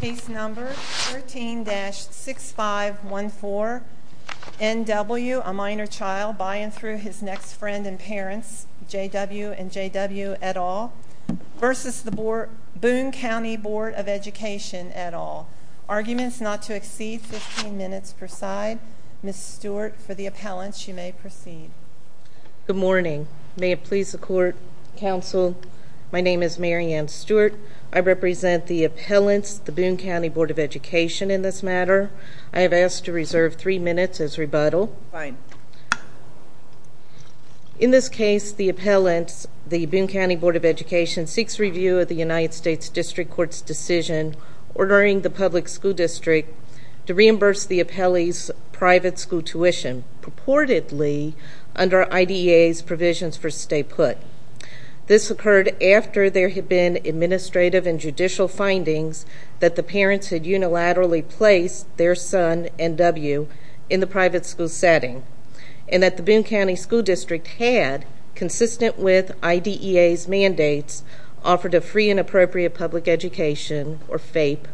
Case number 13-6514, N.W., a minor child, by and through his next friend and parents, J.W. and J.W. et al, versus the Boone County Board of Education et al. Arguments not to exceed 15 minutes per side. Ms. Stewart, for the appellants, you may proceed. Good morning. May it please the Court, Counsel, my name is Mary Ann Stewart. I represent the appellants, the Boone County Board of Education, in this matter. I have asked to reserve three minutes as rebuttal. Fine. In this case, the appellants, the Boone County Board of Education, seeks review of the United States District Court's decision ordering the public school district to reimburse the appellees' private school tuition. Purportedly, under IDEA's provisions for stay put. This occurred after there had been administrative and judicial findings that the parents had unilaterally placed their son, N.W., in the private school setting, and that the Boone County School District had, consistent with IDEA's mandates, offered a free and appropriate public education, or FAPE,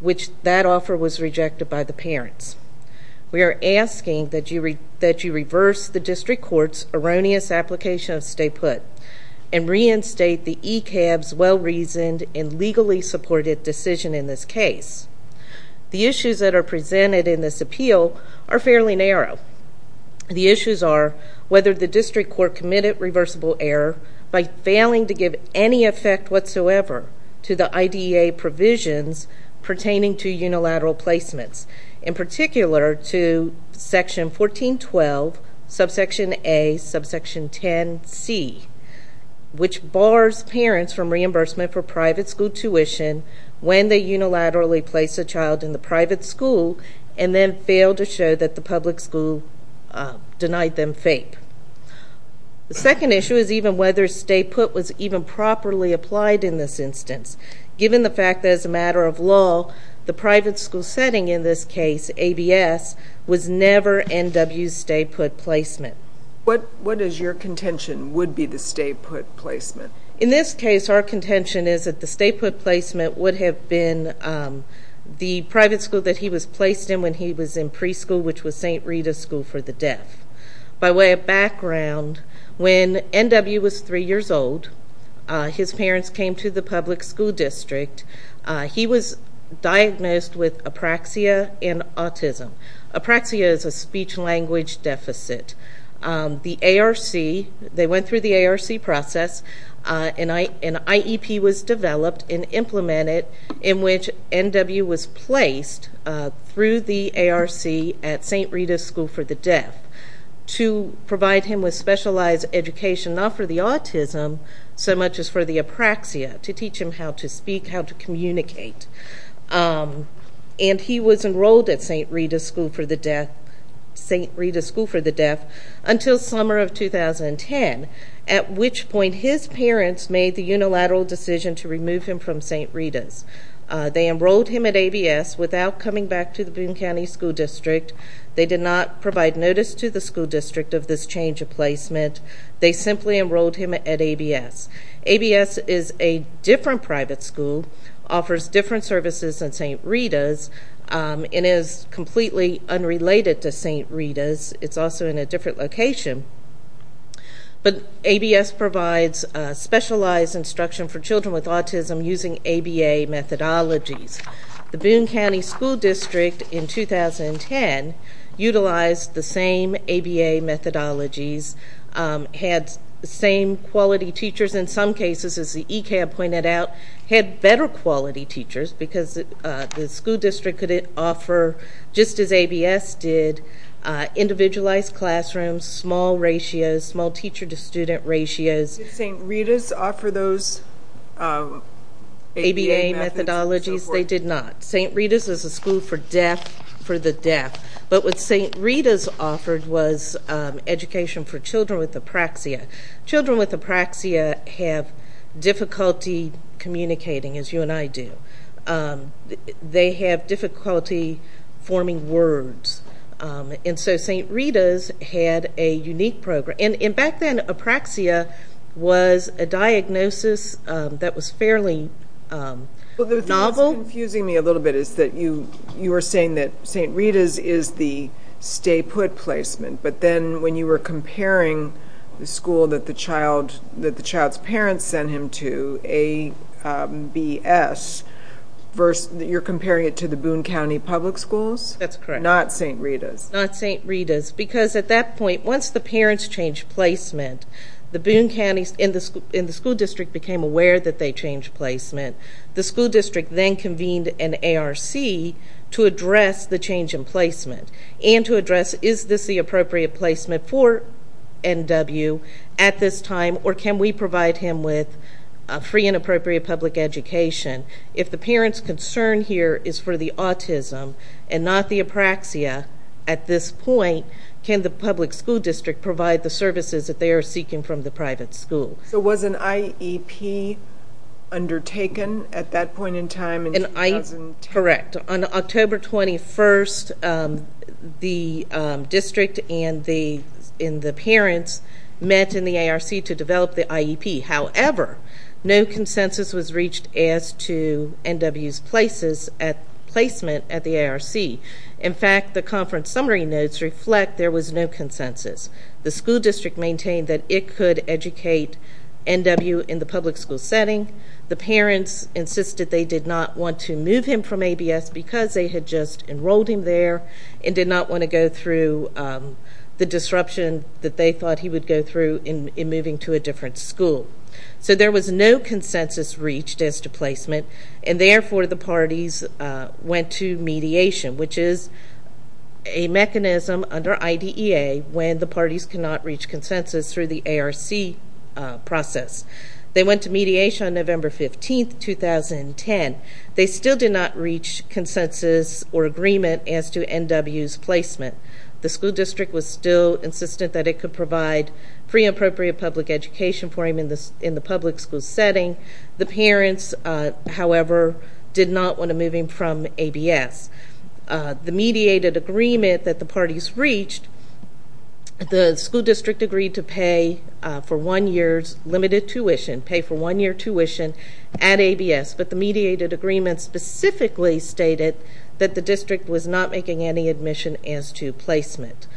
which that offer was rejected by the parents. We are asking that you reverse the District Court's erroneous application of stay put, and reinstate the ECAB's well-reasoned and legally supported decision in this case. The issues that are presented in this appeal are fairly narrow. The issues are whether the District Court committed reversible error by failing to give any effect whatsoever to the IDEA provisions pertaining to unilateral placements. In particular, to Section 1412, Subsection A, Subsection 10c, which bars parents from reimbursement for private school tuition when they unilaterally place a child in the private school, and then fail to show that the public school denied them FAPE. The second issue is even whether stay put was even properly applied in this instance. Given the fact that, as a matter of law, the private school setting in this case, ABS, was never N.W.'s stay put placement. What is your contention would be the stay put placement? In this case, our contention is that the stay put placement would have been the private school that he was placed in when he was in preschool, which was St. Rita's School for the Deaf. By way of background, when N.W. was three years old, his parents came to the public school district. He was diagnosed with apraxia and autism. Apraxia is a speech-language deficit. The ARC, they went through the ARC process, and IEP was developed and implemented in which N.W. was placed through the ARC at St. Rita's School for the Deaf to provide him with specialized education, not for the autism so much as for the apraxia, to teach him how to speak, how to communicate. And he was enrolled at St. Rita's School for the Deaf until summer of 2010, at which point his parents made the unilateral decision to remove him from St. Rita's. They enrolled him at ABS without coming back to the Boone County School District. They did not provide notice to the school district of this change of placement. They simply enrolled him at ABS. ABS is a different private school, offers different services than St. Rita's, and is completely unrelated to St. Rita's. It's also in a different location. But ABS provides specialized instruction for children with autism using ABA methodologies. The Boone County School District in 2010 utilized the same ABA methodologies, had the same quality teachers in some cases, as the ECAB pointed out, had better quality teachers because the school district could offer, just as ABS did, individualized classrooms, small ratios, small teacher-to-student ratios. Did St. Rita's offer those ABA methodologies? They did not. St. Rita's is a school for the deaf. But what St. Rita's offered was education for children with apraxia. Children with apraxia have difficulty communicating, as you and I do. They have difficulty forming words. And so St. Rita's had a unique program. And back then, apraxia was a diagnosis that was fairly novel. What's confusing me a little bit is that you were saying that St. Rita's is the stay-put placement, but then when you were comparing the school that the child's parents sent him to, ABS, you're comparing it to the Boone County Public Schools? That's correct. Not St. Rita's? Not St. Rita's, because at that point, once the parents changed placement, the Boone County and the school district became aware that they changed placement. The school district then convened an ARC to address the change in placement and to address is this the appropriate placement for NW at this time, or can we provide him with free and appropriate public education. If the parent's concern here is for the autism and not the apraxia at this point, can the public school district provide the services that they are seeking from the private schools? So was an IEP undertaken at that point in time in 2010? Correct. On October 21st, the district and the parents met in the ARC to develop the IEP. However, no consensus was reached as to NW's placement at the ARC. In fact, the conference summary notes reflect there was no consensus. The school district maintained that it could educate NW in the public school setting. The parents insisted they did not want to move him from ABS because they had just enrolled him there and did not want to go through the disruption that they thought he would go through in moving to a different school. So there was no consensus reached as to placement, and therefore the parties went to mediation, which is a mechanism under IDEA when the parties cannot reach consensus through the ARC process. They went to mediation on November 15th, 2010. They still did not reach consensus or agreement as to NW's placement. The school district was still insistent that it could provide free and appropriate public education for him in the public school setting. The parents, however, did not want to move him from ABS. The mediated agreement that the parties reached, the school district agreed to pay for one year's limited tuition, pay for one year tuition at ABS. But the mediated agreement specifically stated that the district was not making any admission as to placement.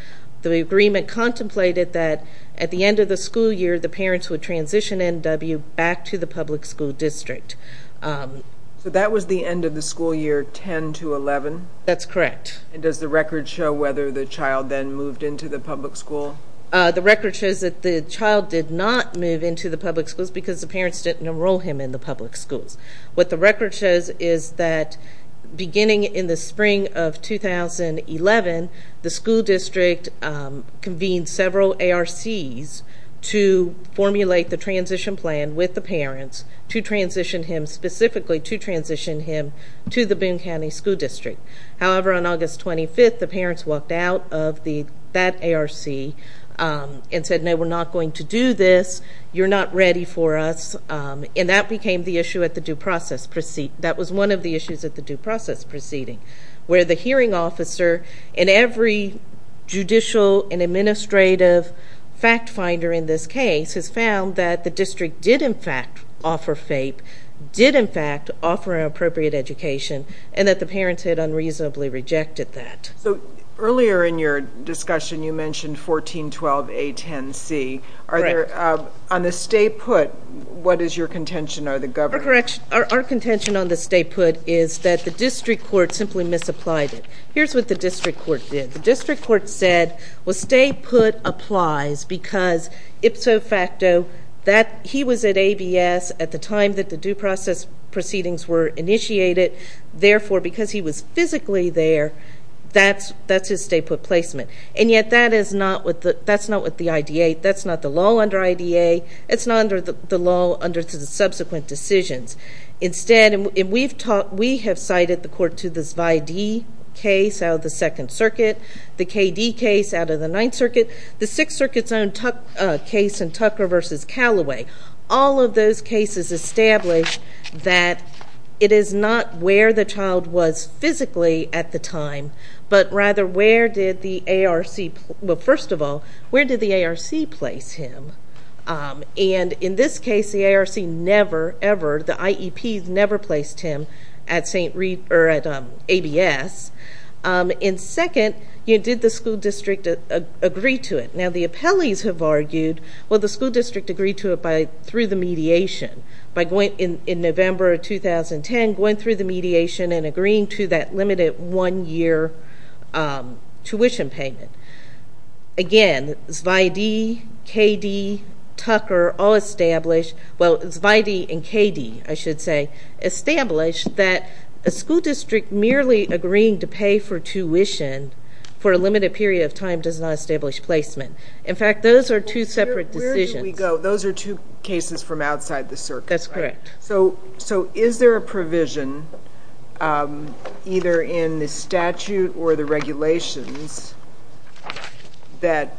The agreement contemplated that at the end of the school year, the parents would transition NW back to the public school district. So that was the end of the school year, 10 to 11? That's correct. And does the record show whether the child then moved into the public school? The record shows that the child did not move into the public schools because the parents didn't enroll him in the public schools. What the record shows is that beginning in the spring of 2011, the school district convened several ARCs to formulate the transition plan with the parents to transition him, specifically to transition him to the Boone County School District. However, on August 25th, the parents walked out of that ARC and said, no, we're not going to do this. You're not ready for us. And that became the issue at the due process. That was one of the issues at the due process proceeding, where the hearing officer in every judicial and administrative fact finder in this case has found that the district did, in fact, offer FAPE, did, in fact, offer an appropriate education, and that the parents had unreasonably rejected that. So earlier in your discussion, you mentioned 1412A10C. Correct. On the state put, what is your contention? Our contention on the state put is that the district court simply misapplied it. Here's what the district court did. The district court said, well, state put applies because ipso facto, that he was at ABS at the time that the due process proceedings were initiated. Therefore, because he was physically there, that's his state put placement. And yet, that's not with the IDA. That's not the law under IDA. It's not under the law under the subsequent decisions. Instead, we have cited the court to this VIDE case out of the Second Circuit, the KD case out of the Ninth Circuit, the Sixth Circuit's own case in Tucker v. Callaway. All of those cases established that it is not where the child was physically at the time, but rather, first of all, where did the ARC place him? And in this case, the ARC never, ever, the IEPs never placed him at ABS. And second, did the school district agree to it? Now, the appellees have argued, well, the school district agreed to it through the mediation. In November of 2010, going through the mediation and agreeing to that limited one-year tuition payment. Again, Zvidee, KD, Tucker all established, well, Zvidee and KD, I should say, established that a school district merely agreeing to pay for tuition for a limited period of time does not establish placement. In fact, those are two separate decisions. Where do we go? Those are two cases from outside the circuit, right? That's correct. So is there a provision, either in the statute or the regulations, that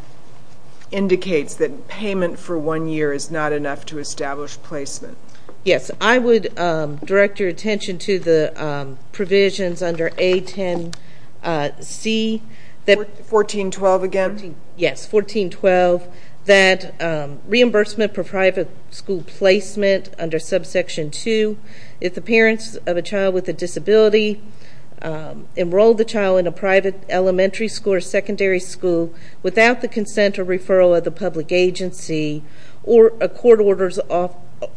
indicates that payment for one year is not enough to establish placement? Yes. I would direct your attention to the provisions under A10C. 1412 again? Yes, 1412. That reimbursement for private school placement under subsection 2, if the parents of a child with a disability enroll the child in a private elementary school or secondary school without the consent or referral of the public agency or a court orders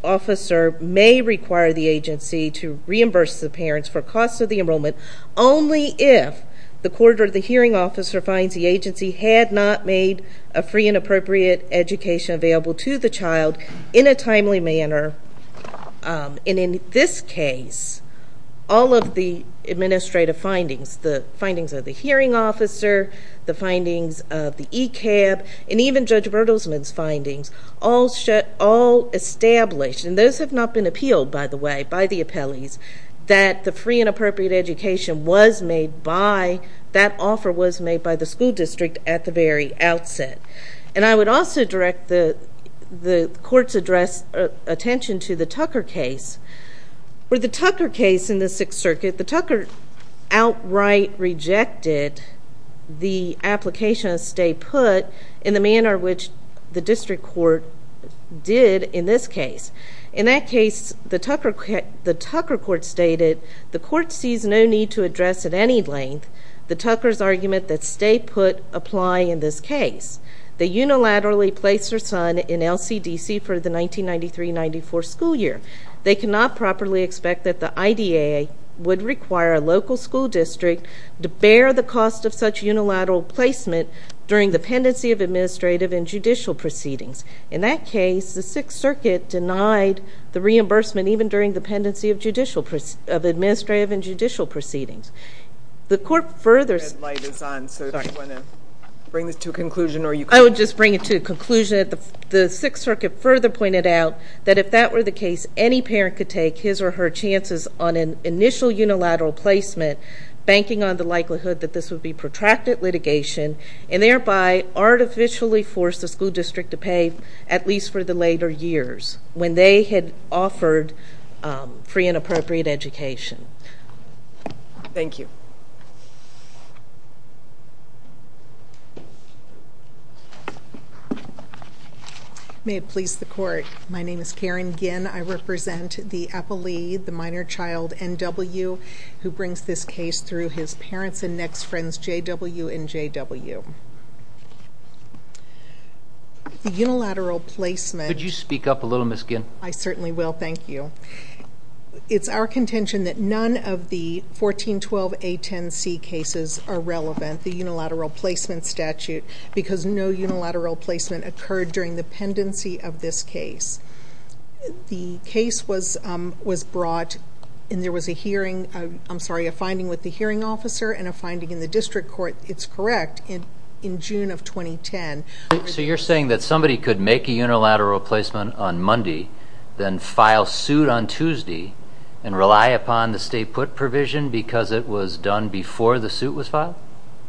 officer may require the agency to reimburse the parents for costs of the enrollment only if the court or the hearing officer finds the agency had not made a free and appropriate education available to the child in a timely manner. And in this case, all of the administrative findings, the findings of the hearing officer, the findings of the ECAB, and even Judge Bertelsman's findings all established, and those have not been appealed, by the way, by the appellees, that the free and appropriate education was made by, that offer was made by the school district at the very outset. And I would also direct the court's attention to the Tucker case. For the Tucker case in the Sixth Circuit, the Tucker outright rejected the application of stay put in the manner which the district court did in this case. In that case, the Tucker court stated, the court sees no need to address at any length the Tucker's argument that stay put apply in this case. They unilaterally placed her son in LCDC for the 1993-94 school year. They cannot properly expect that the IDAA would require a local school district to bear the cost of such unilateral placement during the pendency of administrative and judicial proceedings. In that case, the Sixth Circuit denied the reimbursement, even during the pendency of administrative and judicial proceedings. The court further— The red light is on, so if you want to bring this to a conclusion— I would just bring it to a conclusion. The Sixth Circuit further pointed out that if that were the case, any parent could take his or her chances on an initial unilateral placement, banking on the likelihood that this would be protracted litigation, and thereby artificially force the school district to pay, at least for the later years, when they had offered free and appropriate education. Thank you. May it please the court. My name is Karen Ginn. I represent the appellee, the minor child, N.W., who brings this case through his parents and next friends, J.W. and J.W. The unilateral placement— Could you speak up a little, Ms. Ginn? I certainly will. Thank you. It's our contention that none of the 1412A10C cases are relevant, the unilateral placement statute, because no unilateral placement occurred during the pendency of this case. The case was brought, and there was a hearing—I'm sorry, a finding with the hearing officer and a finding in the district court, it's correct, in June of 2010. So you're saying that somebody could make a unilateral placement on Monday, then file suit on Tuesday, and rely upon the stay-put provision because it was done before the suit was filed?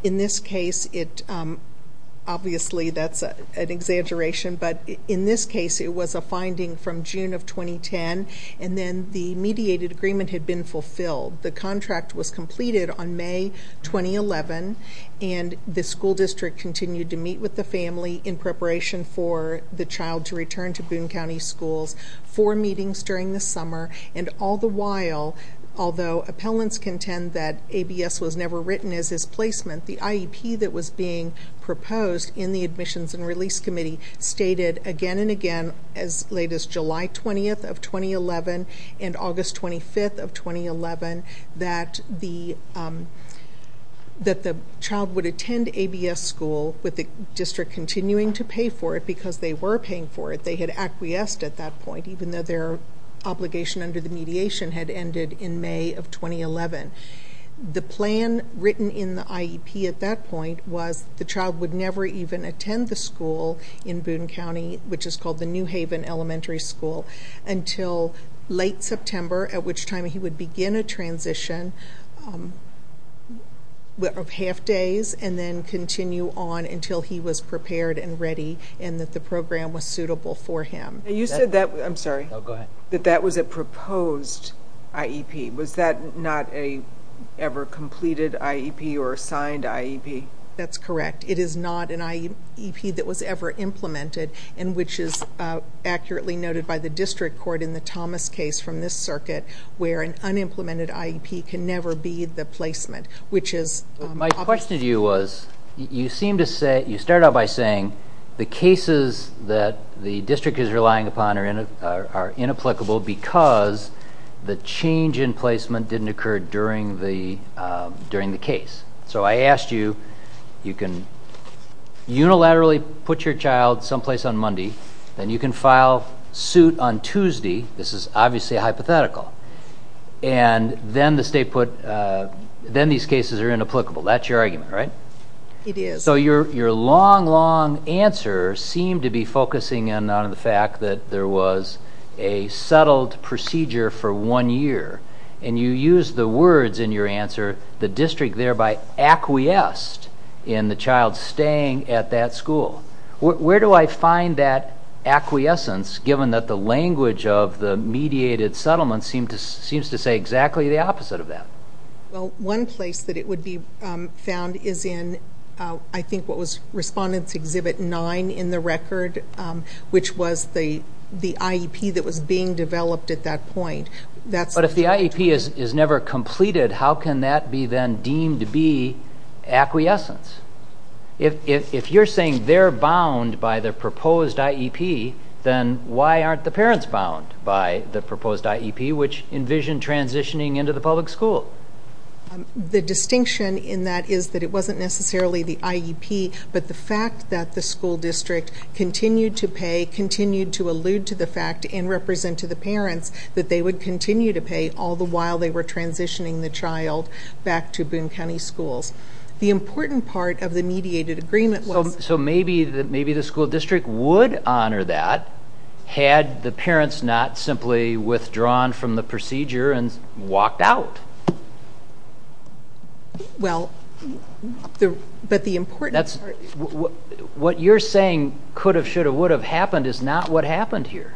In this case, it—obviously, that's an exaggeration, but in this case, it was a finding from June of 2010, and then the mediated agreement had been fulfilled. The contract was completed on May 2011, and the school district continued to meet with the family in preparation for the child to return to Boone County Schools for meetings during the summer. And all the while, although appellants contend that ABS was never written as his placement, the IEP that was being proposed in the Admissions and Release Committee stated again and again as late as July 20th of 2011 and August 25th of 2011 that the child would attend ABS school with the district continuing to pay for it because they were paying for it. They had acquiesced at that point, even though their obligation under the mediation had ended in May of 2011. The plan written in the IEP at that point was the child would never even attend the school in Boone County, which is called the New Haven Elementary School, until late September, at which time he would begin a transition of half days and then continue on until he was prepared and ready and that the program was suitable for him. You said that—I'm sorry. No, go ahead. That that was a proposed IEP. Was that not an ever-completed IEP or a signed IEP? That's correct. It is not an IEP that was ever implemented, and which is accurately noted by the district court in the Thomas case from this circuit where an unimplemented IEP can never be the placement, which is— My question to you was you seemed to say—you started out by saying the cases that the district is relying upon are inapplicable because the change in placement didn't occur during the case. So I asked you, you can unilaterally put your child someplace on Monday, then you can file suit on Tuesday—this is obviously hypothetical— and then the state put—then these cases are inapplicable. That's your argument, right? It is. So your long, long answer seemed to be focusing in on the fact that there was a settled procedure for one year, and you used the words in your answer, the district thereby acquiesced in the child staying at that school. Where do I find that acquiescence given that the language of the mediated settlement seems to say exactly the opposite of that? Well, one place that it would be found is in I think what was Respondents Exhibit 9 in the record, which was the IEP that was being developed at that point. But if the IEP is never completed, how can that be then deemed to be acquiescence? If you're saying they're bound by the proposed IEP, then why aren't the parents bound by the proposed IEP, which envisioned transitioning into the public school? The distinction in that is that it wasn't necessarily the IEP, but the fact that the school district continued to pay, continued to allude to the fact and represent to the parents that they would continue to pay all the while they were transitioning the child back to Boone County Schools. The important part of the mediated agreement was— So maybe the school district would honor that had the parents not simply withdrawn from the procedure and walked out. What you're saying could have, should have, would have happened is not what happened here.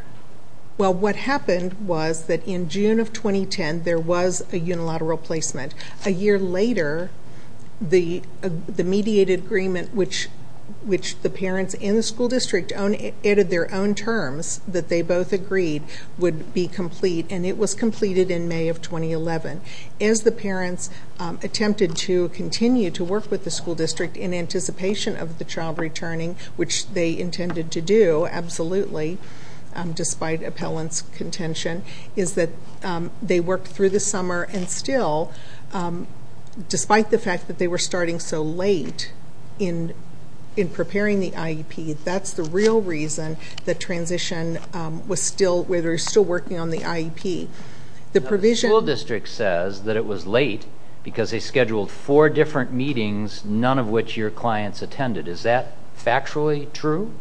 Well, what happened was that in June of 2010, there was a unilateral placement. A year later, the mediated agreement, which the parents in the school district added their own terms that they both agreed would be complete, and it was completed in May of 2011. As the parents attempted to continue to work with the school district in anticipation of the child returning, which they intended to do, absolutely, despite appellant's contention, is that they worked through the summer and still, despite the fact that they were starting so late in preparing the IEP, that's the real reason that transition was still, where they were still working on the IEP. The school district says that it was late because they scheduled four different meetings, none of which your clients attended. Is that factually true?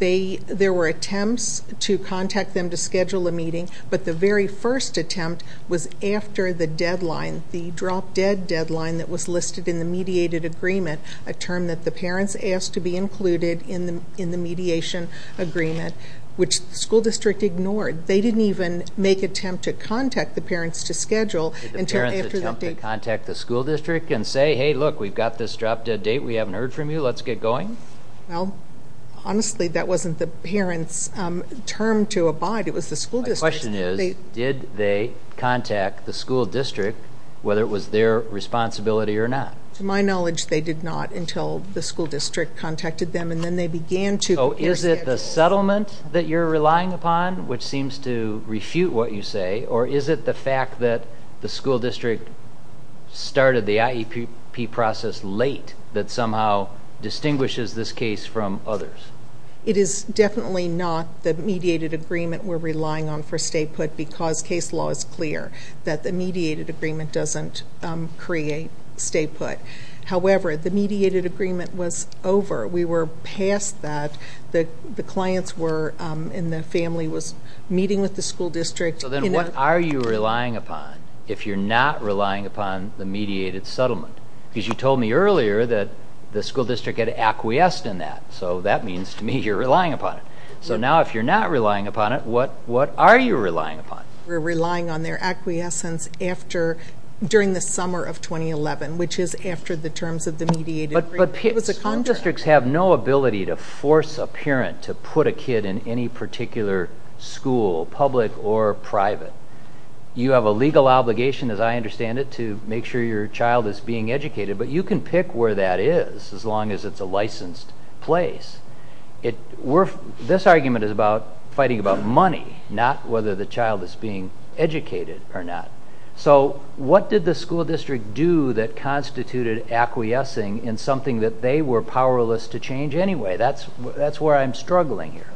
There were attempts to contact them to schedule a meeting, but the very first attempt was after the deadline, the drop-dead deadline that was listed in the mediated agreement, a term that the parents asked to be included in the mediation agreement, which the school district ignored. They didn't even make attempt to contact the parents to schedule until after the date. Did the parents attempt to contact the school district and say, hey, look, we've got this drop-dead date, we haven't heard from you, let's get going? Well, honestly, that wasn't the parents' term to abide. It was the school district's. My question is, did they contact the school district, whether it was their responsibility or not? To my knowledge, they did not until the school district contacted them, and then they began to. So is it the settlement that you're relying upon, which seems to refute what you say, or is it the fact that the school district started the IEP process late that somehow distinguishes this case from others? It is definitely not the mediated agreement we're relying on for stay-put because case law is clear that the mediated agreement doesn't create stay-put. However, the mediated agreement was over. We were past that. The clients and the family were meeting with the school district. So then what are you relying upon if you're not relying upon the mediated settlement? Because you told me earlier that the school district had acquiesced in that, so that means to me you're relying upon it. So now if you're not relying upon it, what are you relying upon? We're relying on their acquiescence during the summer of 2011, which is after the terms of the mediated agreement. But school districts have no ability to force a parent to put a kid in any particular school, public or private. You have a legal obligation, as I understand it, to make sure your child is being educated, but you can pick where that is as long as it's a licensed place. This argument is about fighting about money, not whether the child is being educated or not. So what did the school district do that constituted acquiescing in something that they were powerless to change anyway? That's where I'm struggling here.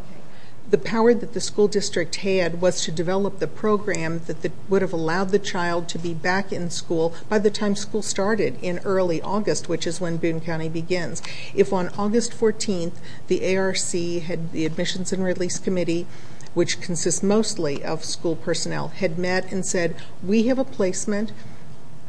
The power that the school district had was to develop the program that would have allowed the child to be back in school by the time school started in early August, which is when Boone County begins. If on August 14th the ARC, the Admissions and Release Committee, which consists mostly of school personnel, had met and said, we have a placement,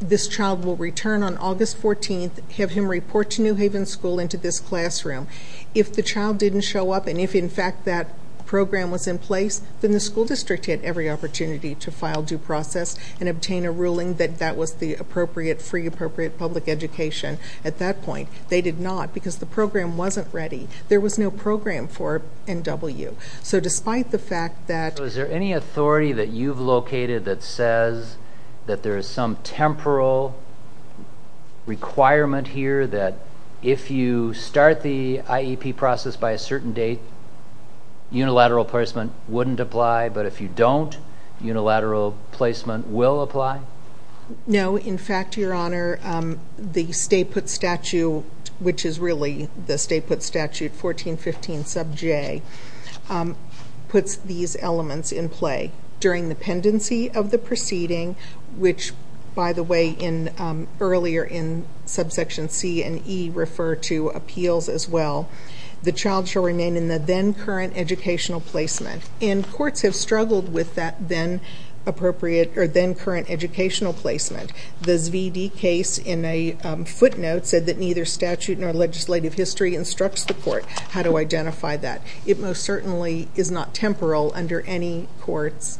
this child will return on August 14th, have him report to New Haven School into this classroom. If the child didn't show up, and if in fact that program was in place, then the school district had every opportunity to file due process and obtain a ruling that that was the appropriate, free, appropriate public education at that point. They did not because the program wasn't ready. There was no program for NW. So despite the fact that... So is there any authority that you've located that says that there is some temporal requirement here that if you start the IEP process by a certain date, unilateral placement wouldn't apply, but if you don't, unilateral placement will apply? No. In fact, Your Honor, the state put statute, which is really the state put statute 1415 sub J, puts these elements in play. During the pendency of the proceeding, which, by the way, earlier in subsection C and E refer to appeals as well, the child shall remain in the then current educational placement. And courts have struggled with that then appropriate or then current educational placement. The ZVD case in a footnote said that neither statute nor legislative history instructs the court how to identify that. It most certainly is not temporal under any court's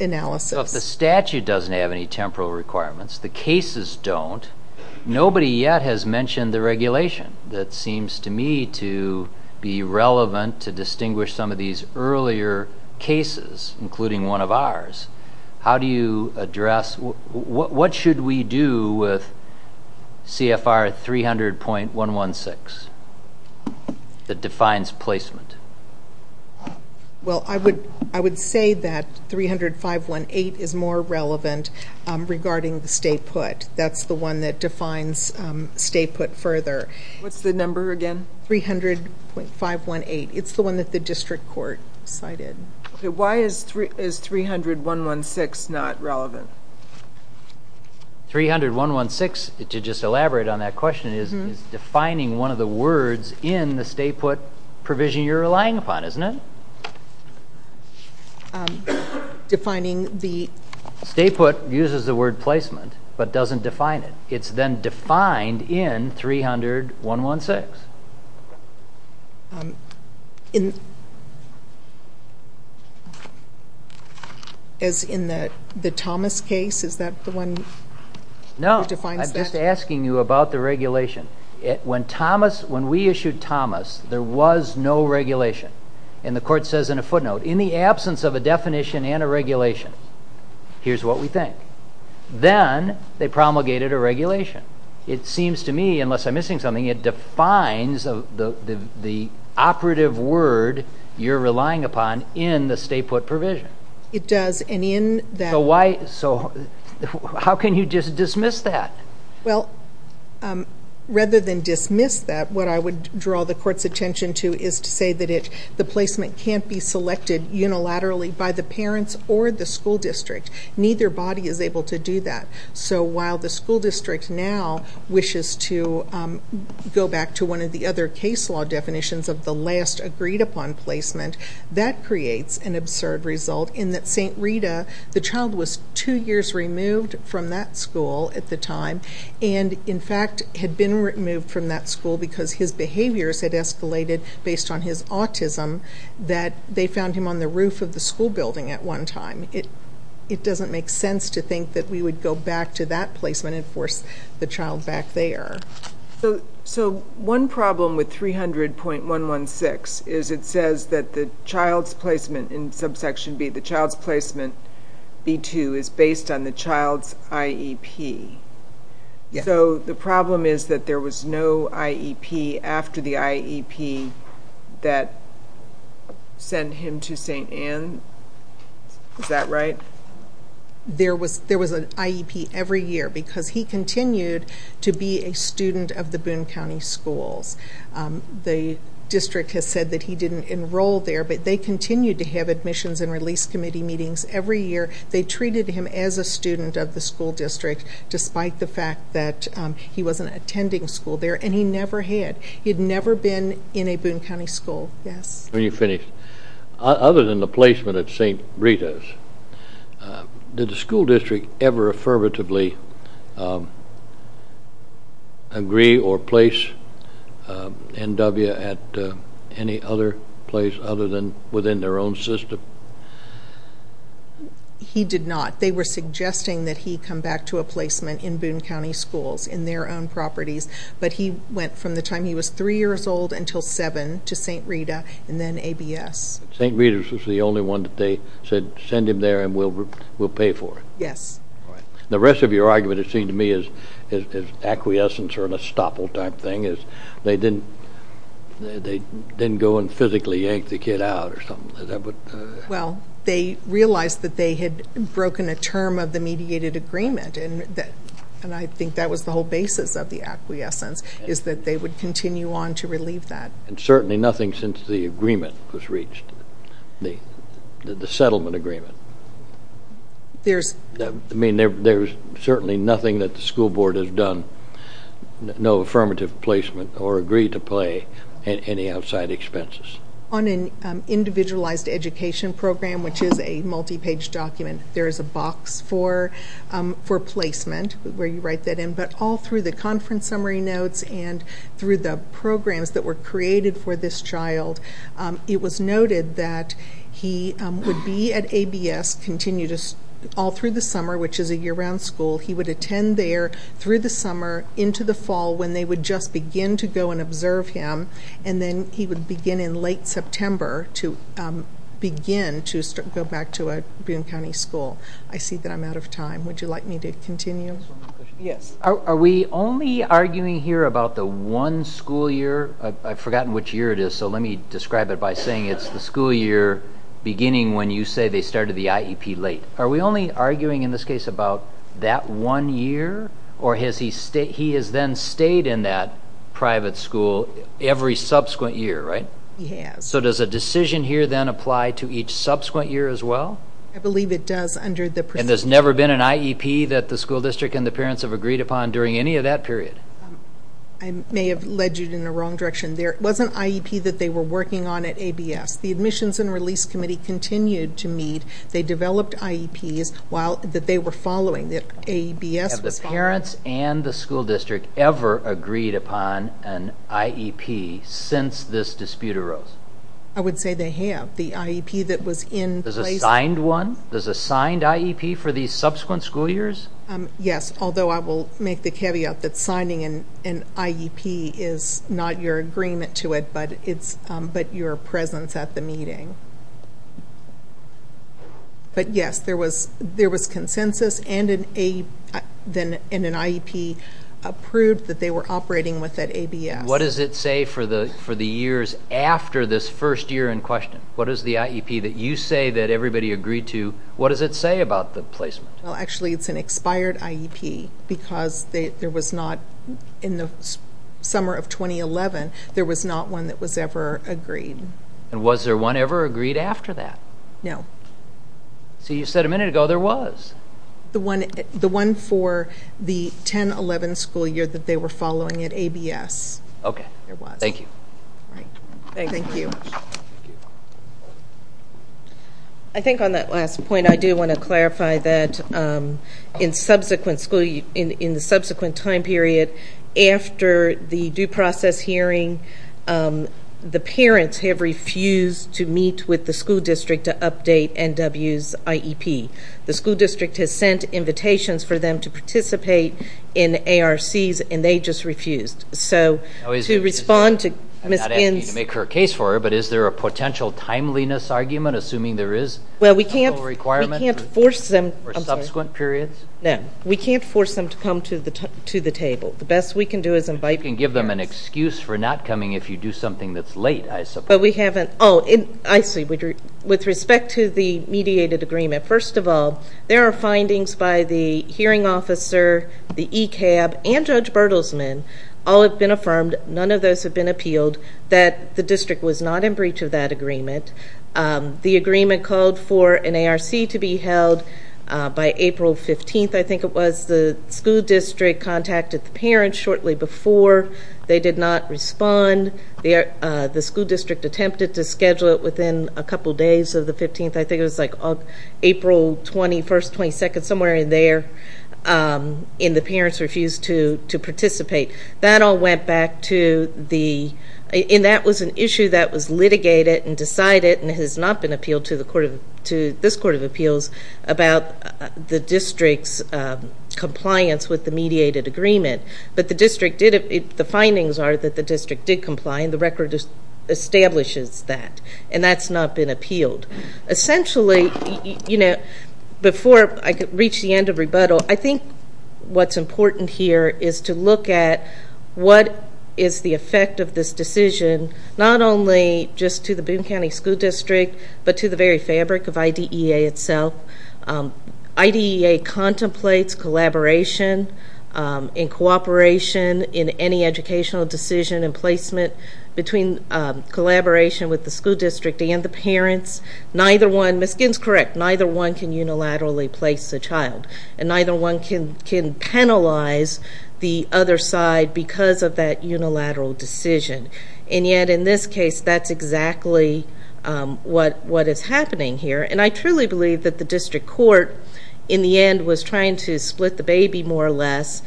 analysis. So if the statute doesn't have any temporal requirements, the cases don't, nobody yet has mentioned the regulation that seems to me to be relevant to distinguish some of these earlier cases, including one of ours. How do you address... What should we do with CFR 300.116 that defines placement? Well, I would say that 305.118 is more relevant regarding the state put. That's the one that defines state put further. What's the number again? 300.518. It's the one that the district court cited. Okay. Why is 300.116 not relevant? 300.116, to just elaborate on that question, is defining one of the words in the state put provision you're relying upon, isn't it? Defining the... State put uses the word placement but doesn't define it. It's then defined in 300.116. As in the Thomas case, is that the one that defines that? No, I'm just asking you about the regulation. When we issued Thomas, there was no regulation. And the court says in a footnote, in the absence of a definition and a regulation, here's what we think. Then they promulgated a regulation. It seems to me, unless I'm missing something, it defines the operative word you're relying upon in the state put provision. It does, and in that... How can you dismiss that? Well, rather than dismiss that, what I would draw the court's attention to is to say that the placement can't be selected unilaterally by the parents or the school district. Neither body is able to do that. So while the school district now wishes to go back to one of the other case law definitions of the last agreed-upon placement, that creates an absurd result in that St. Rita, the child was two years removed from that school at the time, and in fact had been removed from that school because his behaviors had escalated based on his autism, that they found him on the roof of the school building at one time. It doesn't make sense to think that we would go back to that placement and force the child back there. So one problem with 300.116 is it says that the child's placement in subsection B, the child's placement B2, is based on the child's IEP. So the problem is that there was no IEP after the IEP that sent him to St. Ann? Is that right? There was an IEP every year because he continued to be a student of the Boone County Schools. The district has said that he didn't enroll there, but they continued to have admissions and release committee meetings every year. They treated him as a student of the school district despite the fact that he wasn't attending school there, and he never had. He had never been in a Boone County school, yes. When you finish, other than the placement at St. Rita's, did the school district ever affirmatively agree or place NW at any other place other than within their own system? He did not. They were suggesting that he come back to a placement in Boone County Schools in their own properties, but he went from the time he was three years old until seven to St. Rita and then ABS. St. Rita's was the only one that they said, send him there and we'll pay for it? Yes. The rest of your argument, it seemed to me, is acquiescence or an estoppel type thing. They didn't go and physically yank the kid out or something? Well, they realized that they had broken a term of the mediated agreement, and I think that was the whole basis of the acquiescence, is that they would continue on to relieve that. And certainly nothing since the agreement was reached, the settlement agreement. I mean, there's certainly nothing that the school board has done, no affirmative placement or agreed to pay any outside expenses. On an individualized education program, which is a multi-page document, there is a box for placement where you write that in, but all through the conference summary notes and through the programs that were created for this child, it was noted that he would be at ABS all through the summer, which is a year-round school. He would attend there through the summer into the fall when they would just begin to go and observe him, and then he would begin in late September to begin to go back to a Boone County school. I see that I'm out of time. Would you like me to continue? Yes. Are we only arguing here about the one school year? I've forgotten which year it is, so let me describe it by saying it's the school year beginning when you say they started the IEP late. Are we only arguing in this case about that one year, or he has then stayed in that private school every subsequent year, right? He has. So does a decision here then apply to each subsequent year as well? I believe it does under the procedure. And there's never been an IEP that the school district and the parents have agreed upon during any of that period? I may have led you in the wrong direction. There was an IEP that they were working on at ABS. The Admissions and Release Committee continued to meet. They developed IEPs that they were following, that ABS was following. Have the parents and the school district ever agreed upon an IEP since this dispute arose? I would say they have. The IEP that was in place. There's a signed one? There's a signed IEP for these subsequent school years? Yes, although I will make the caveat that signing an IEP is not your agreement to it, but your presence at the meeting. But, yes, there was consensus and an IEP approved that they were operating with at ABS. What does it say for the years after this first year in question? What does the IEP that you say that everybody agreed to, what does it say about the placement? Well, actually, it's an expired IEP because there was not, in the summer of 2011, there was not one that was ever agreed. And was there one ever agreed after that? No. So you said a minute ago there was. The one for the 10-11 school year that they were following at ABS. Okay. There was. Thank you. Thank you. I think on that last point I do want to clarify that in the subsequent time period, after the due process hearing, the parents have refused to meet with the school district to update NW's IEP. The school district has sent invitations for them to participate in ARCs, and they just refused. So to respond to Ms. Binns' I'm not asking you to make her a case for her, but is there a potential timeliness argument, assuming there is? Well, we can't force them. Or subsequent periods? No. We can't force them to come to the table. The best we can do is invite parents. You can give them an excuse for not coming if you do something that's late, I suppose. But we haven't. Oh, I see. With respect to the mediated agreement, first of all, there are findings by the hearing officer, the ECAB, and Judge Bertelsman. All have been affirmed. None of those have been appealed, that the district was not in breach of that agreement. The agreement called for an ARC to be held by April 15th, I think it was. The school district contacted the parents shortly before. They did not respond. The school district attempted to schedule it within a couple days of the 15th. I think it was like April 21st, 22nd, somewhere in there, and the parents refused to participate. That all went back to the—and that was an issue that was litigated and decided and has not been appealed to this Court of Appeals about the district's compliance with the mediated agreement. But the district did—the findings are that the district did comply, and the record establishes that. And that's not been appealed. Essentially, you know, before I reach the end of rebuttal, I think what's important here is to look at what is the effect of this decision, not only just to the Boone County School District, but to the very fabric of IDEA itself. IDEA contemplates collaboration and cooperation in any educational decision and placement between collaboration with the school district and the parents. Neither one—Ms. Ginn's correct—neither one can unilaterally place a child, and neither one can penalize the other side because of that unilateral decision. And yet, in this case, that's exactly what is happening here. And I truly believe that the district court, in the end, was trying to split the baby, more or less,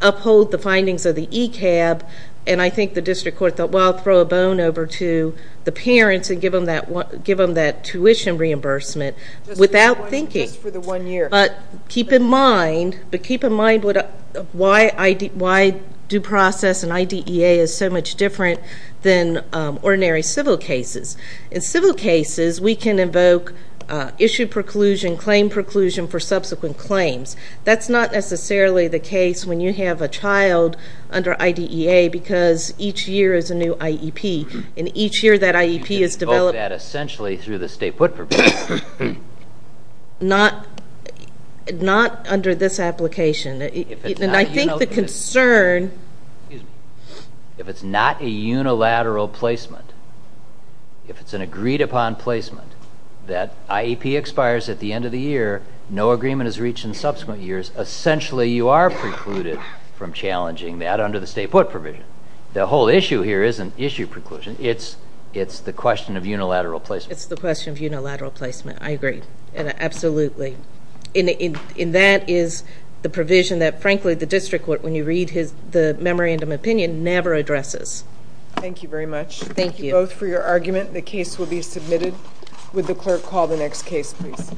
uphold the findings of the ECAB, and I think the district court thought, well, I'll throw a bone over to the parents and give them that tuition reimbursement without thinking. Just for the one year. But keep in mind why due process and IDEA is so much different than ordinary civil cases. In civil cases, we can invoke issue preclusion, claim preclusion for subsequent claims. That's not necessarily the case when you have a child under IDEA because each year is a new IEP, and each year that IEP is developed— You can invoke that essentially through the state put purpose. Not under this application. And I think the concern— Excuse me. If it's not a unilateral placement, if it's an agreed-upon placement, that IEP expires at the end of the year, no agreement is reached in subsequent years, essentially you are precluded from challenging that under the state put provision. The whole issue here isn't issue preclusion. It's the question of unilateral placement. It's the question of unilateral placement. I agree. Absolutely. And that is the provision that, frankly, the district court, when you read the memorandum opinion, never addresses. Thank you very much. Thank you both for your argument. The case will be submitted. Would the clerk call the next case, please?